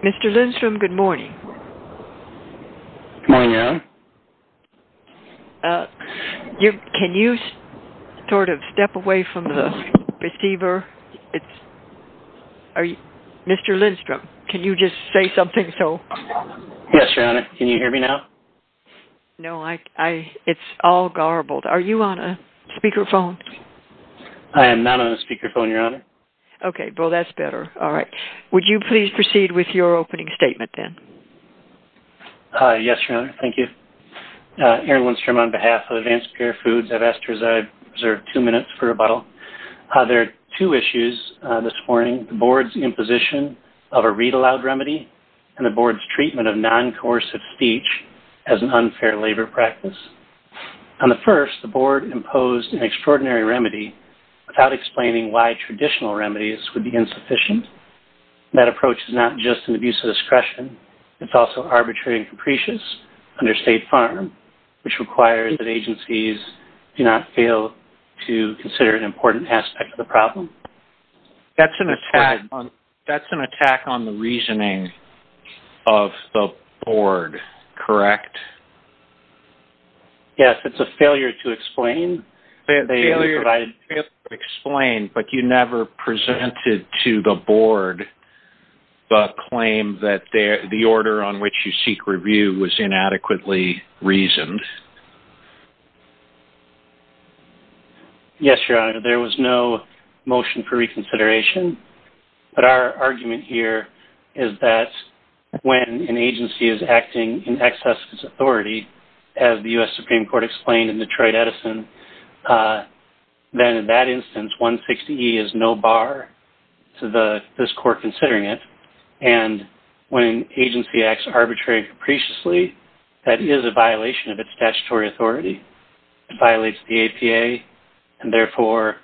Mr. Lindstrom, good morning. Good morning, Anne. Can you sort of step away from the receiver? Sure. Mr. Lindstrom, can you just say something so... Yes, Your Honor. Can you hear me now? No. It's all garbled. Are you on a speakerphone? I am not on a speakerphone, Your Honor. Okay. Well, that's better. All right. Would you please proceed with your opening statement then? Yes, Your Honor. Thank you. Aaron Lindstrom on behalf of Advanced Pierre Foods. I've asked two issues this morning. The Board's imposition of a read-aloud remedy and the Board's treatment of non-coercive speech as an unfair labor practice. On the first, the Board imposed an extraordinary remedy without explaining why traditional remedies would be insufficient. That approach is not just an abuse of discretion. It's also arbitrary and capricious under State which requires that agencies do not fail to consider an important aspect of the problem. That's an attack on the reasoning of the Board, correct? Yes. It's a failure to explain. Failure to explain, but you never presented to the Board the claim that the order on which you seek review was inadequately reasoned. Yes, Your Honor. There was no motion for reconsideration, but our argument here is that when an agency is acting in excess of its authority, as the U.S. Supreme Court explained in Detroit Edison, then in that instance, 160E is no bar to this Court considering it. And when an agency acts arbitrarily and capriciously, that is a violation of its statutory authority. It violates the APA, and therefore,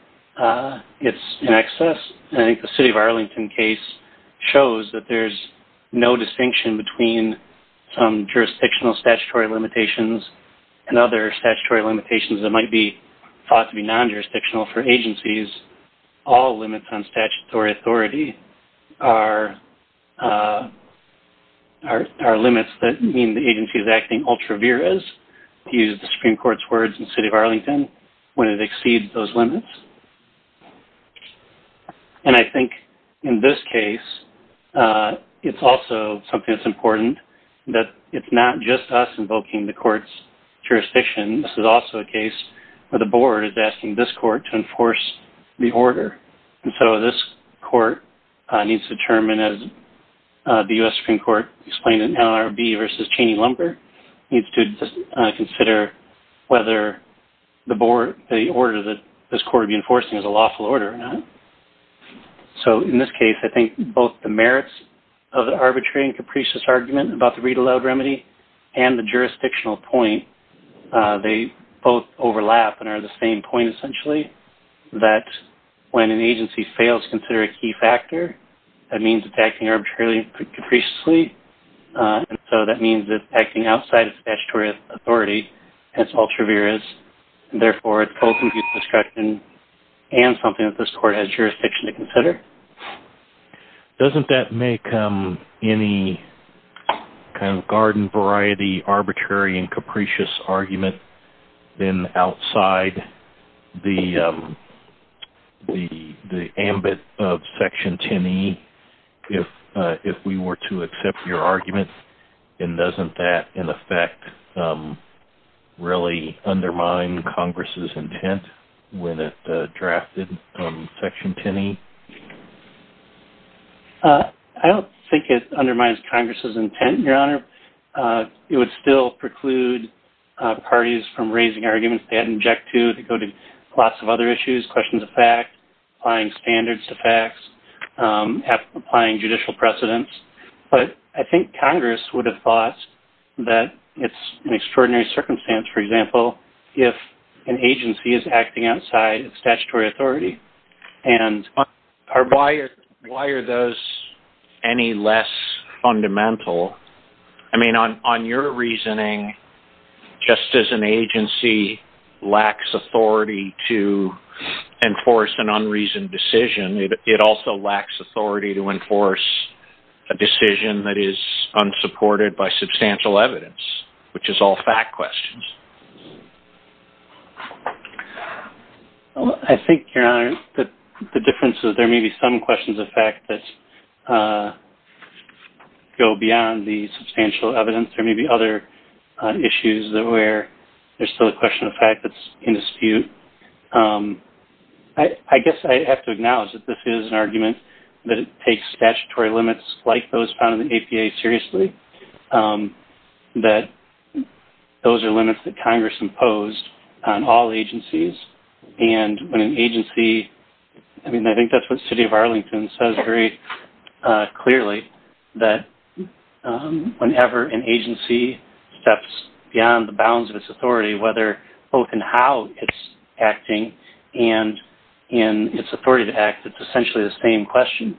it's in excess. And I think the City of Arlington case shows that there's no distinction between some jurisdictional statutory limitations and other statutory limitations that might be thought to be non-jurisdictional for agencies. All limits on statutory authority are limits that mean the agency is acting ultra vires, to use the Supreme Court's words in the City of Arlington, when it exceeds those limits. And I think in this case, it's also something that's important that it's not just us invoking the Court's jurisdiction. This is also a case where the Board is asking this Court to enforce the order. And so this Court needs to determine, as the U.S. Supreme Court explained in NLRB versus Cheney-Lumber, needs to consider whether the order that this Court would be enforcing is a lawful order or not. So in this case, I think both the merits of the arbitrary and capricious argument about the read-aloud remedy and the jurisdictional point, they both overlap and are the same point, essentially, that when an agency fails to consider a key factor, that means it's acting arbitrarily and capriciously. And so that means it's acting outside of statutory authority and it's ultra vires. And therefore, it's co-conclusive destruction and something that this Court has jurisdiction to consider. Doesn't that make any kind of garden-variety arbitrary and capricious argument then outside the ambit of Section 10e, if we were to accept your argument? And doesn't that, in effect, really undermine Congress' intent when it drafted Section 10e? I don't think it undermines Congress' intent, Your Honor. It would still preclude parties from raising arguments they hadn't objected to that go to lots of other issues, questions of fact, applying standards to facts, applying judicial precedence. But I think Congress would have thought that it's an extraordinary circumstance, for example, if an agency is acting outside of statutory authority. Why are those any less fundamental? I mean, on your reasoning, just as an agency lacks authority to enforce an unreasoned decision, it also lacks authority to enforce a decision that is unsupported by I think, Your Honor, the difference is there may be some questions of fact that go beyond the substantial evidence. There may be other issues where there's still a question of fact that's in dispute. I guess I have to acknowledge that this is an argument that takes statutory limits like those found in the statute, and those are limits that Congress imposed on all agencies. And when an agency, I mean, I think that's what the city of Arlington says very clearly, that whenever an agency steps beyond the bounds of its authority, whether both in how it's acting and in its authority to act, it's essentially the same question.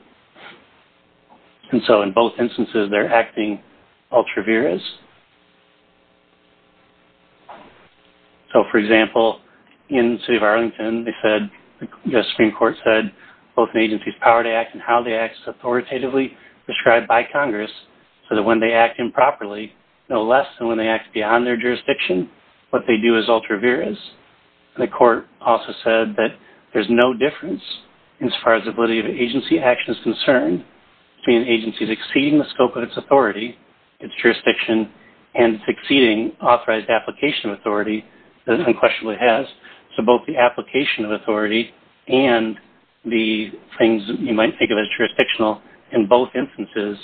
And so in both instances, they're acting ultra vires. So, for example, in the city of Arlington, the Supreme Court said both an agency's power to act and how they act is authoritatively described by Congress, so that when they act improperly, no less than when they act beyond their jurisdiction, what they do is ultra vires. And the court also said that there's no difference, as far as ability of agency action is concerned, between an agency's exceeding the scope of its authority, its jurisdiction, and succeeding authorized application of authority that it unquestionably has. So both the application of authority and the things you might think of as jurisdictional in both instances,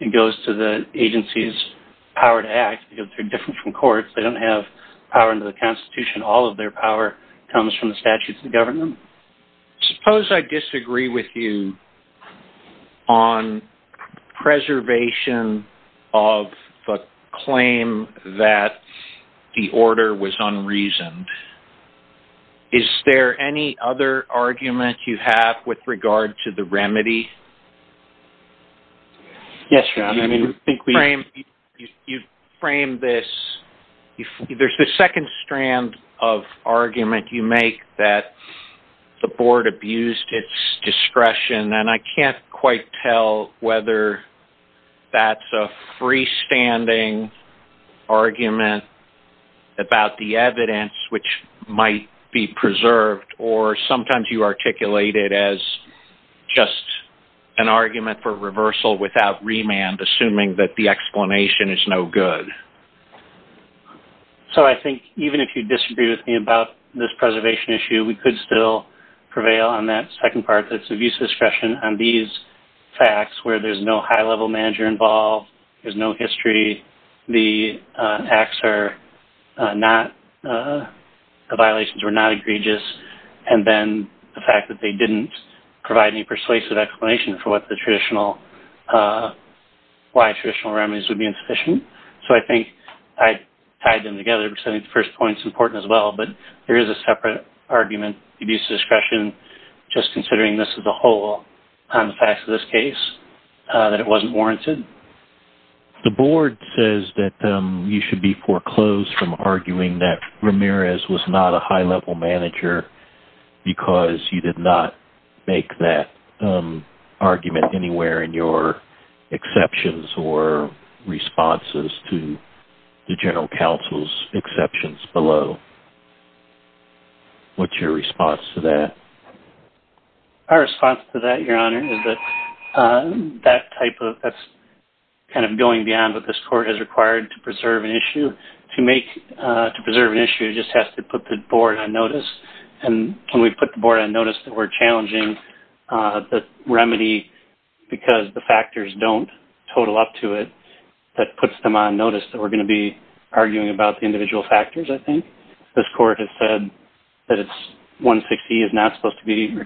it goes to the agency's power to act because they're different from courts. They don't have power under the Constitution. All of their power comes from the statutes of the government. Suppose I disagree with you on preservation of the claim that the order was unreasoned. Is there any other argument you have with regard to the remedy? Yes, John. I mean, you frame this, there's this second strand of argument you make that the board abused its discretion, and I can't quite tell whether that's a freestanding argument about the evidence, which might be preserved, or sometimes you articulate it as just an argument for reversal without remand, assuming that the explanation is no good. So I think even if you disagree with me about this preservation issue, we could still prevail on that second part, that's abuse of discretion on these facts, where there's no high-level manager involved, there's no history, the acts are not, the violations were not egregious, and then the fact that they didn't provide any persuasive explanation for what the traditional, why traditional remedies would be insufficient. So I think I tied them together because I think the first point is important as well, but there is a separate argument, abuse of discretion, just considering this as a whole on the facts of this case, that it wasn't foreclosed from arguing that Ramirez was not a high-level manager because you did not make that argument anywhere in your exceptions or responses to the general counsel's exceptions below. What's your response to that? Our response to that, Your Honor, is that that type of, that's kind of going beyond what this Court has required to preserve an issue. To make, to preserve an issue, it just has to put the Board on notice, and when we put the Board on notice that we're challenging the remedy because the factors don't total up to it, that puts them on notice that we're going to be arguing about the individual factors, I think. This Court has said that it's, 160 is not supposed to be the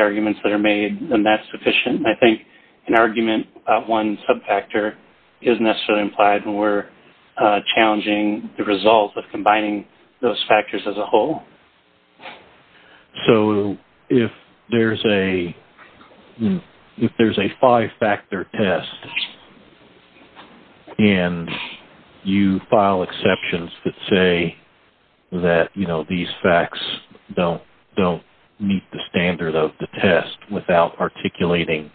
arguments that are made, and that's sufficient. I think an argument about one sub-factor isn't necessarily implied when we're challenging the results of combining those factors as a whole. So if there's a five-factor test and you file exceptions that say that these facts don't meet the standard of the test without articulating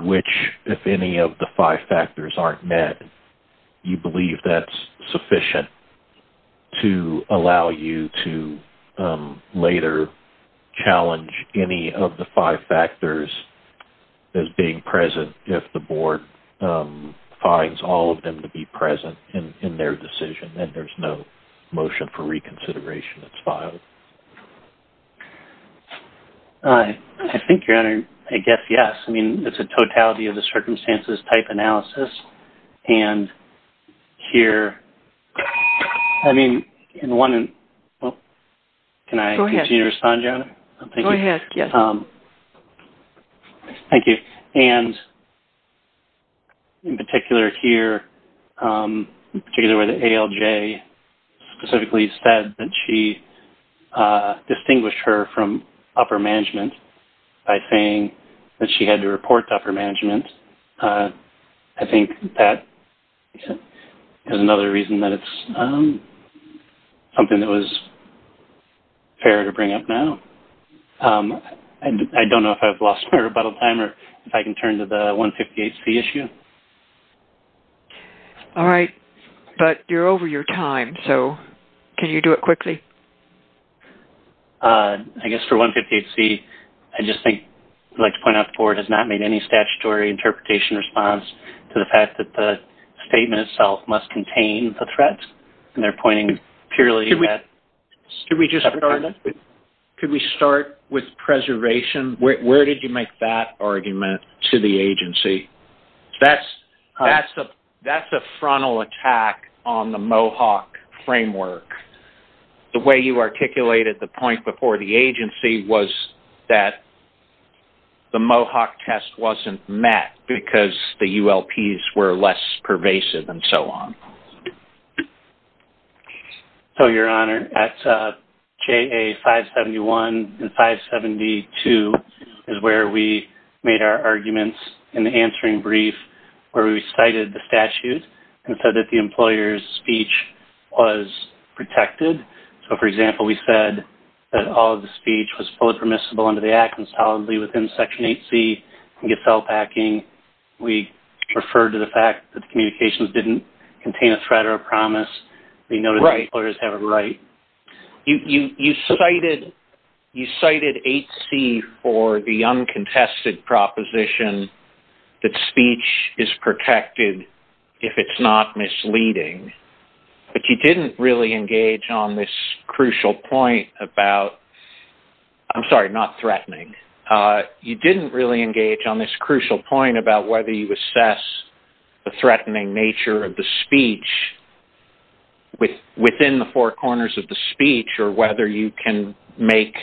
which, if any, of the five factors aren't met, you believe that's sufficient to allow you to later challenge any of the five factors as being present if the Board finds all of them to be present in their decision, and there's no motion for reconsideration that's filed. I think, Your Honor, I guess yes. I mean, it's a totality of the circumstances type analysis, and here, I mean, in one... Can I continue to respond, Your Honor? Go ahead. Thank you. And in particular here, particularly where the ALJ specifically said that she distinguished her from upper management by saying that she had to report to upper management, I think that is another reason that it's something that was fair to bring up now. I don't know if I've lost my rebuttal time or if I can turn to the 158C issue. All right. But you're over your time, so can you do it quickly? I guess for 158C, I just think I'd like to point out the Board has not made any statutory interpretation response to the fact that the statement itself must contain the threats, and they're pointing purely at upper management. Could we start with preservation? Where did you make that argument to the agency? That's a frontal attack on the MOHAWK framework. The way you articulated the point before the agency was that the MOHAWK test wasn't met because the ULPs were less pervasive and so on. So, Your Honor, at the time of the answering brief where we cited the statute and said that the employer's speech was protected. So, for example, we said that all of the speech was fully permissible under the Act and solidly within Section 8C and get felt backing. We referred to the fact that the communications didn't contain a threat or a promise. We know that the employers have a right. You cited 8C for the uncontested proposition that speech is protected if it's not misleading. But you didn't really engage on this crucial point about I'm sorry, not threatening. You didn't really engage on this crucial point about whether you assess the threatening nature of the speech within the four corners of the speech or whether you can make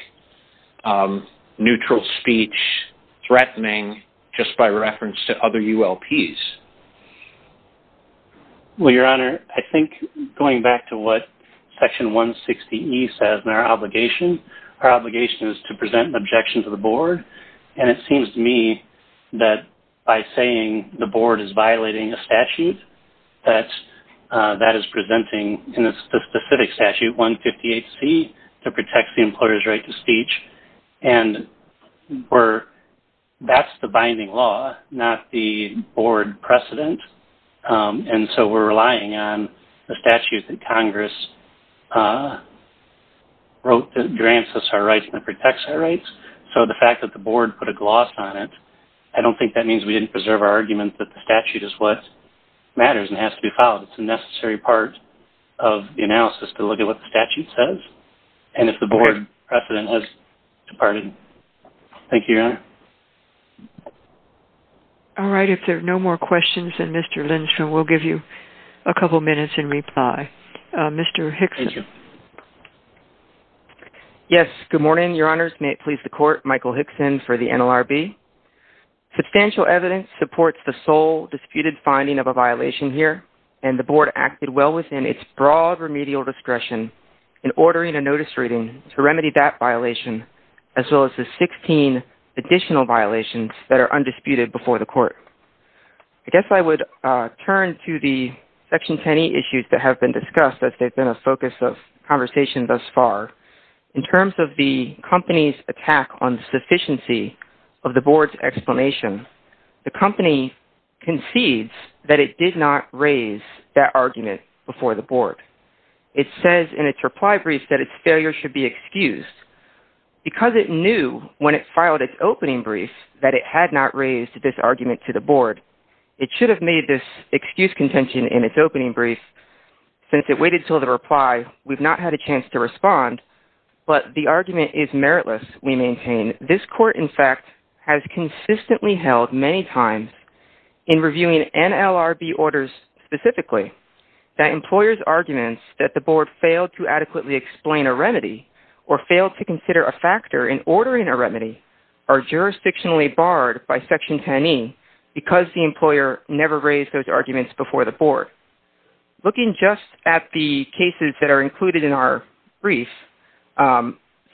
neutral speech threatening just by reference to other ULPs. Well, Your Honor, I think going back to what Section 160E says in our obligation, our obligation is to present an objection to the board. And it seems to me that by saying the board is violating a statute, that is presenting in a specific statute 158C to protect the employer's right to speech. And that's the binding law, not the board precedent. And so, we're relying on the statute that Congress wrote that grants us our rights and protects our rights. So, the fact that the board put a gloss on it, I don't think that means we didn't preserve our argument that the statute is what matters and has to be followed. It's a necessary part of the analysis to look at what the statute says. And if the board precedent has departed. Thank you, Your Honor. All right. If there are no more questions, then Mr. Lindstrom will give you a couple minutes in reply. Mr. Hickson. Yes. Good morning, Your Honors. May it please the Court, Michael Hickson for the NLRB. Substantial evidence supports the sole disputed finding of a violation here and the board acted well within its broad remedial discretion in ordering a notice reading to remedy that violation, as well as the 16 additional violations that are undisputed before the Court. I guess I would turn to the Section 10e issues that have been discussed as they've been a focus of conversation thus far. In terms of the company's attack on the sufficiency of the board's explanation, the company concedes that it did not raise that argument before the board. It says in its reply brief that its failure should be excused. Because it knew when it filed its opening brief that it had not raised this argument to the board, it should have made this excuse contention in its opening brief. Since it waited until the reply, we've not had a chance to respond, but the argument is meritless, we maintain. This court, in fact, has consistently held many times in reviewing NLRB orders specifically that employers' arguments that the board failed to adequately explain a remedy or failed to consider a factor in ordering a remedy are jurisdictionally barred by Section 10e because the employer never raised those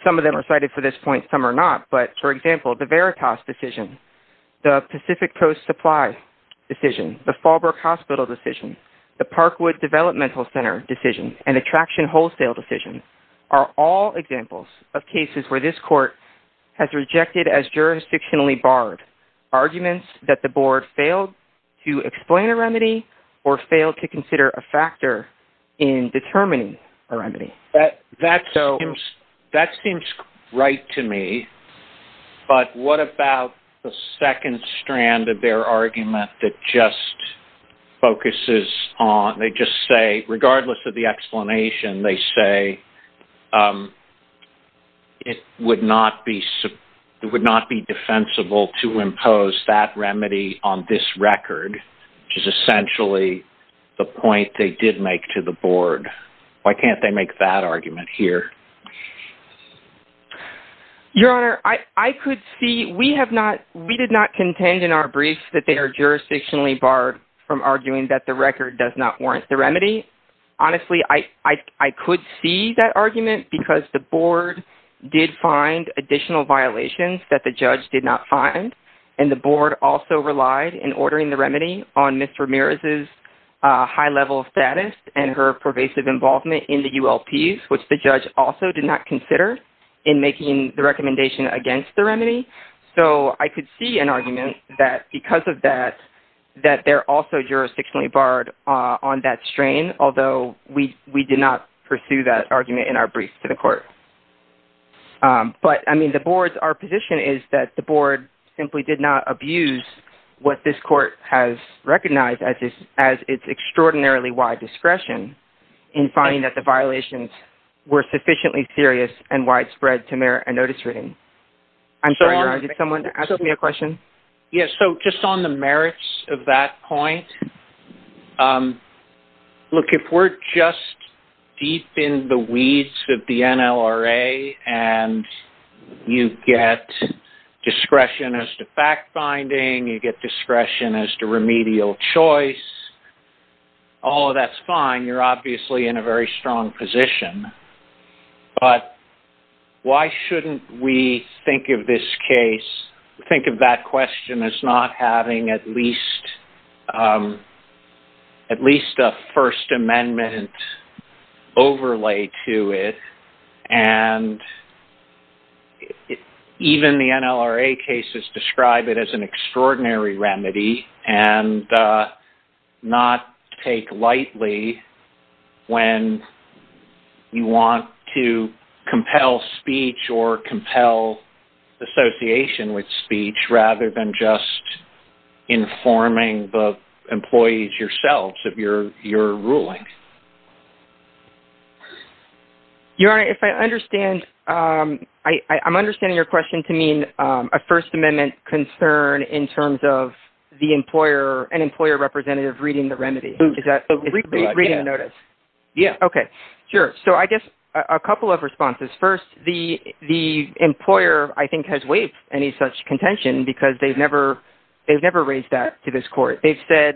Some of them are cited for this point, some are not. But, for example, the Veritas decision, the Pacific Post Supply decision, the Fallbrook Hospital decision, the Parkwood Developmental Center decision, and the Traction Wholesale decision are all examples of cases where this court has rejected as jurisdictionally barred arguments that the board failed to explain a remedy or failed to consider a factor in determining a remedy. That seems right to me, but what about the second strand of their argument that just focuses on, they just say, regardless of the explanation, they say it would not be defensible to impose that remedy on this record, which is essentially the point they did make to the board. Why can't they make that argument here? Your Honor, I could see, we have not, we did not contend in our briefs that they are jurisdictionally barred from arguing that the record does not warrant the remedy. Honestly, I could see an argument that the board did not find, and the board also relied in ordering the remedy on Ms. Ramirez's high-level status and her pervasive involvement in the ULPs, which the judge also did not consider in making the recommendation against the remedy. So, I could see an argument that because of that, that they're also jurisdictionally barred on that strain, although we did not find that the board simply did not abuse what this court has recognized as its extraordinarily wide discretion in finding that the violations were sufficiently serious and widespread to merit a notice reading. I'm sorry, Your Honor, did someone ask me a question? Yes, so just on the merits of that point, look, if we're just deep in the weeds of the NLRA and you get discretion as to fact-finding, you get discretion as to remedial choice, all of that's fine. You're obviously in a very strong position. But why shouldn't we think of this case, think of that question as not having at least a First Amendment overlay to it, and even the NLRA cases describe it as an extraordinary remedy and not take lightly when you want to compel speech or compel association with speech rather than just informing the employees yourselves of your ruling? Your Honor, if I understand, I'm understanding your question to mean a First Amendment concern in terms of an employer representative reading the remedy. Okay, sure. So I guess a couple of responses. First, the employer, I think, has waived any such contention because they've never raised that to this Court. They've said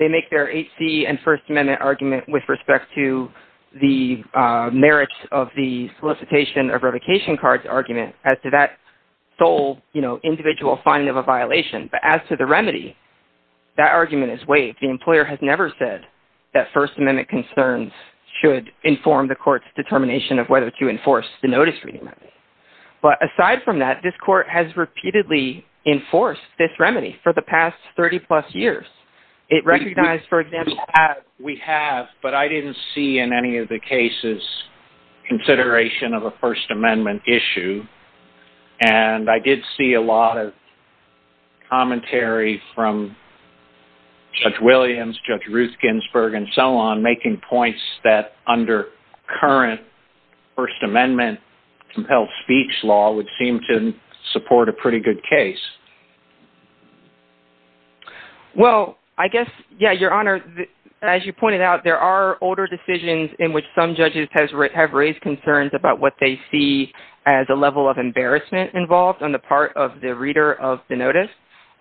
they make their H.C. and First Amendment argument with respect to the merits of the solicitation of revocation cards argument as to that sole individual finding of a violation. But as to the remedy, that argument is waived. The employer has never said that First Amendment concerns should inform the Court's determination of whether to enforce the notice-reading remedy. But aside from that, this Court has repeatedly enforced this remedy for the past 30-plus years. It recognized, for example... We have, but I didn't see in any of the cases consideration of a First Amendment issue. And I did see a lot of commentary from Judge Williams, Judge Ruth Ginsburg, and so on, making points that under current First Amendment compelled speech law would seem to support a pretty good case. Well, I guess, yeah, Your Honor, as you pointed out, there are older decisions in which some judges have raised concerns about what they see as a level of embarrassment involved on the part of the reader of the notice.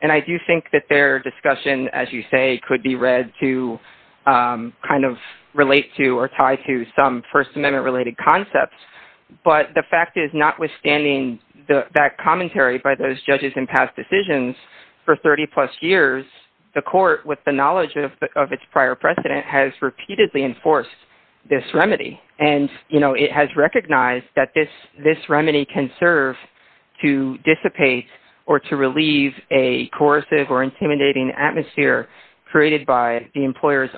And I do think that their discussion, as you say, could be read to kind of relate to or tie to some So, notwithstanding that commentary by those judges in past decisions, for 30-plus years, the Court, with the knowledge of its prior precedent, has repeatedly enforced this remedy. And it has recognized that this remedy can serve to dissipate or to relieve a coercive or intimidating atmosphere created by the employer's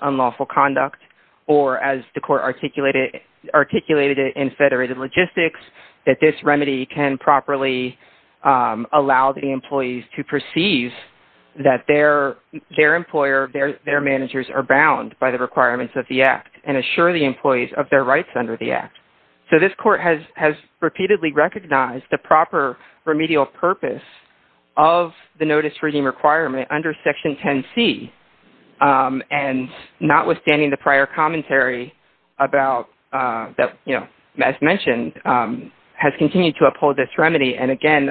This remedy can properly allow the employees to perceive that their employer, their managers, are bound by the requirements of the Act and assure the employees of their rights under the Act. So this Court has repeatedly recognized the proper remedial purpose of the notice reading requirement under Section 10C and notwithstanding the prior commentary that, as mentioned, has continued to uphold this remedy. And again,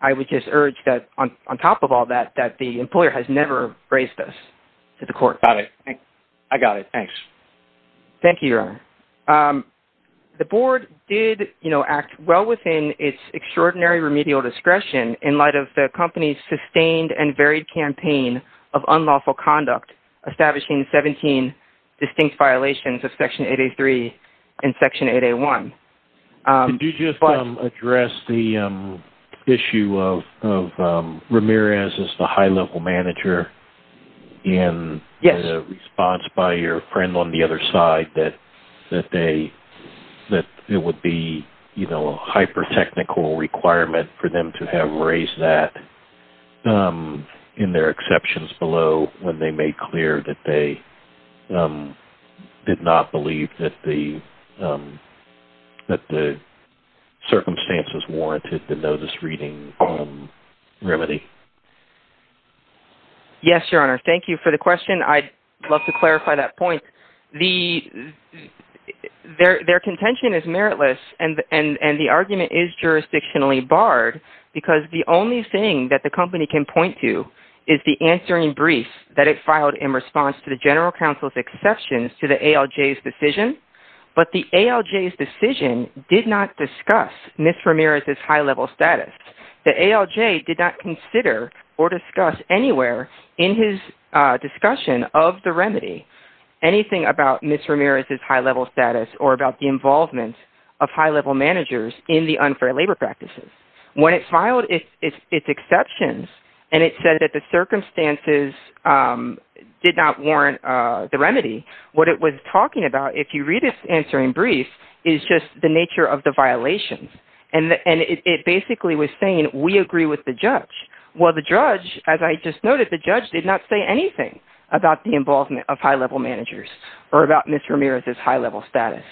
I would just urge that, on top of all that, that the employer has never raised this to the Court. I got it. Thanks. Thank you, Your Honor. The Board did act well within its extraordinary remedial discretion in light of the company's sustained and varied campaign of unlawful conduct, establishing 17 distinct violations of Section 8A3 and Section 8A1. Could you just address the issue of Ramirez as the high-level manager and the response by your friend on the other side that it would be a hyper-technical requirement for them to have raised that in their exceptions below when they made clear that they did not believe that the circumstances warranted the notice reading remedy? Yes, Your Honor. Thank you for the question. I'd love to clarify that point. Their contention is meritless, and the argument is jurisdictionally barred because the only thing that the company can point to is the answering brief that it filed in response to the General Counsel's exceptions to the ALJ's decision. But the ALJ's decision did not discuss Ms. Ramirez's high-level status. The ALJ did not consider or discuss anywhere in his discussion of the remedy anything about Ms. Ramirez's high-level status or about the involvement of high-level managers in the unfair labor practices. When it filed its exceptions and it said that the circumstances did not warrant the remedy, what it was talking about, if you read its answering brief, is just the nature of the violation. It basically was saying, we agree with the judge. Well, the judge, as I just noted, the judge did not say anything about the involvement of high-level managers or about Ms. Ramirez's high-level status.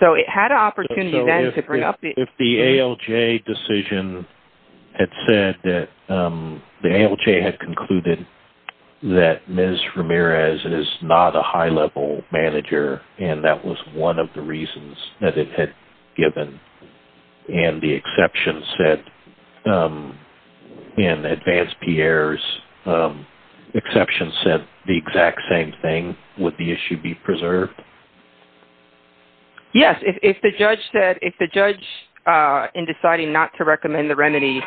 So it had an opportunity then to bring up the... that Ms. Ramirez is not a high-level manager, and that was one of the reasons that it had given. And the exception said, in Advance Pierre's exception, said the exact same thing. Would the issue be preserved? Yes. If the judge said, if the judge in deciding not to recommend the remedy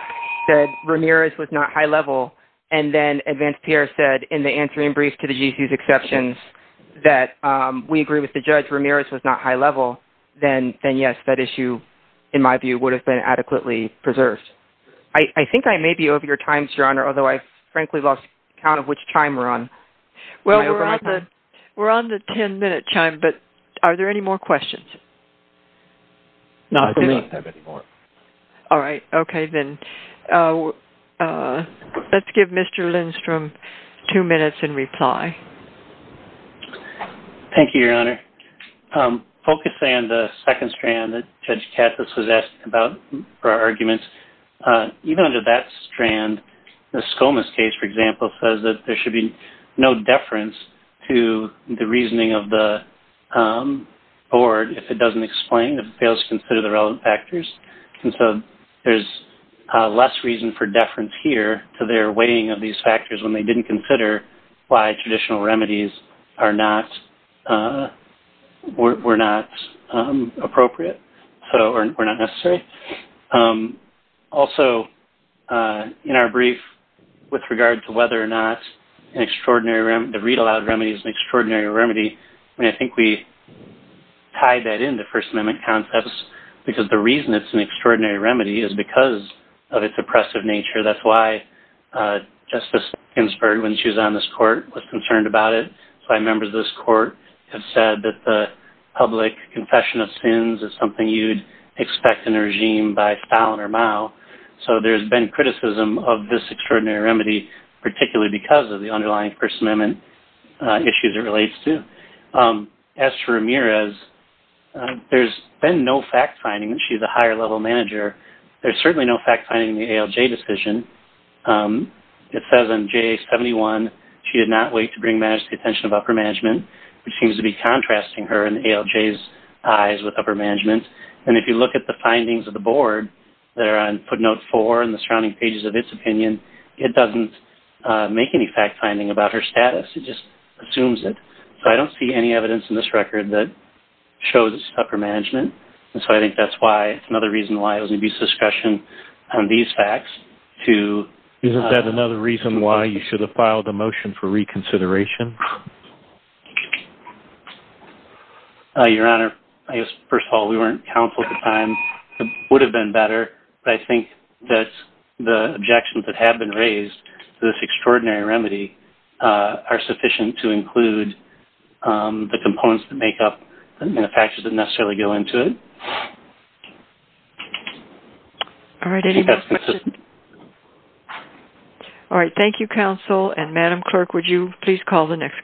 said Ramirez was not high-level, and then Advance Pierre said, in the answering brief to the GC's exceptions, that we agree with the judge Ramirez was not high-level, then yes, that issue, in my view, would have been adequately preserved. I think I may be over your time, Your Honor, although I frankly lost count of which time we're on. Well, we're on the ten-minute time, but are there any more questions? No, I don't have any more. All right. Okay, then. Let's give Mr. Lindstrom two minutes in reply. Thank you, Your Honor. Focusing on the second strand that Judge Katz was asking about, or arguments, even under that strand, the Skomas case, for example, says that there should be no deference to the reasoning of the board if it doesn't explain, if it fails to consider the relevant factors. And so there's less reason for deference here to their weighing of these factors when they didn't consider why traditional remedies were not appropriate or not necessary. Also, in our brief, with regard to whether or not the read-aloud remedy is an extraordinary remedy, I think we tie that into First Amendment concepts, because the reason it's an extraordinary remedy is because the person in this court was concerned about it. So I remember this court has said that the public confession of sins is something you'd expect in a regime by Fallon or Mao. So there's been criticism of this extraordinary remedy, particularly because of the underlying First Amendment issues it relates to. As for Ramirez, there's been no fact-finding. She's a higher-level manager. There's certainly no fact-finding in the ALJ decision. It says on JA-71, she did not wait to bring back the attention of upper management, which seems to be contrasting her and ALJ's eyes with upper management. And if you look at the findings of the board that are on footnote 4 and the surrounding pages of its opinion, it doesn't make any fact-finding about her And so I think that's another reason why it was an abuse of discretion on these facts to Isn't that another reason why you should have filed a motion for reconsideration? Your Honor, I guess, first of all, we weren't countful at the time. It would have been better, but I think that the objections that have been raised to this extraordinary remedy are sufficient to include the components that make up the manufacturers that necessarily go into it. All right. Any more questions? All right. Thank you, counsel. And Madam Clerk, would you please call the next case?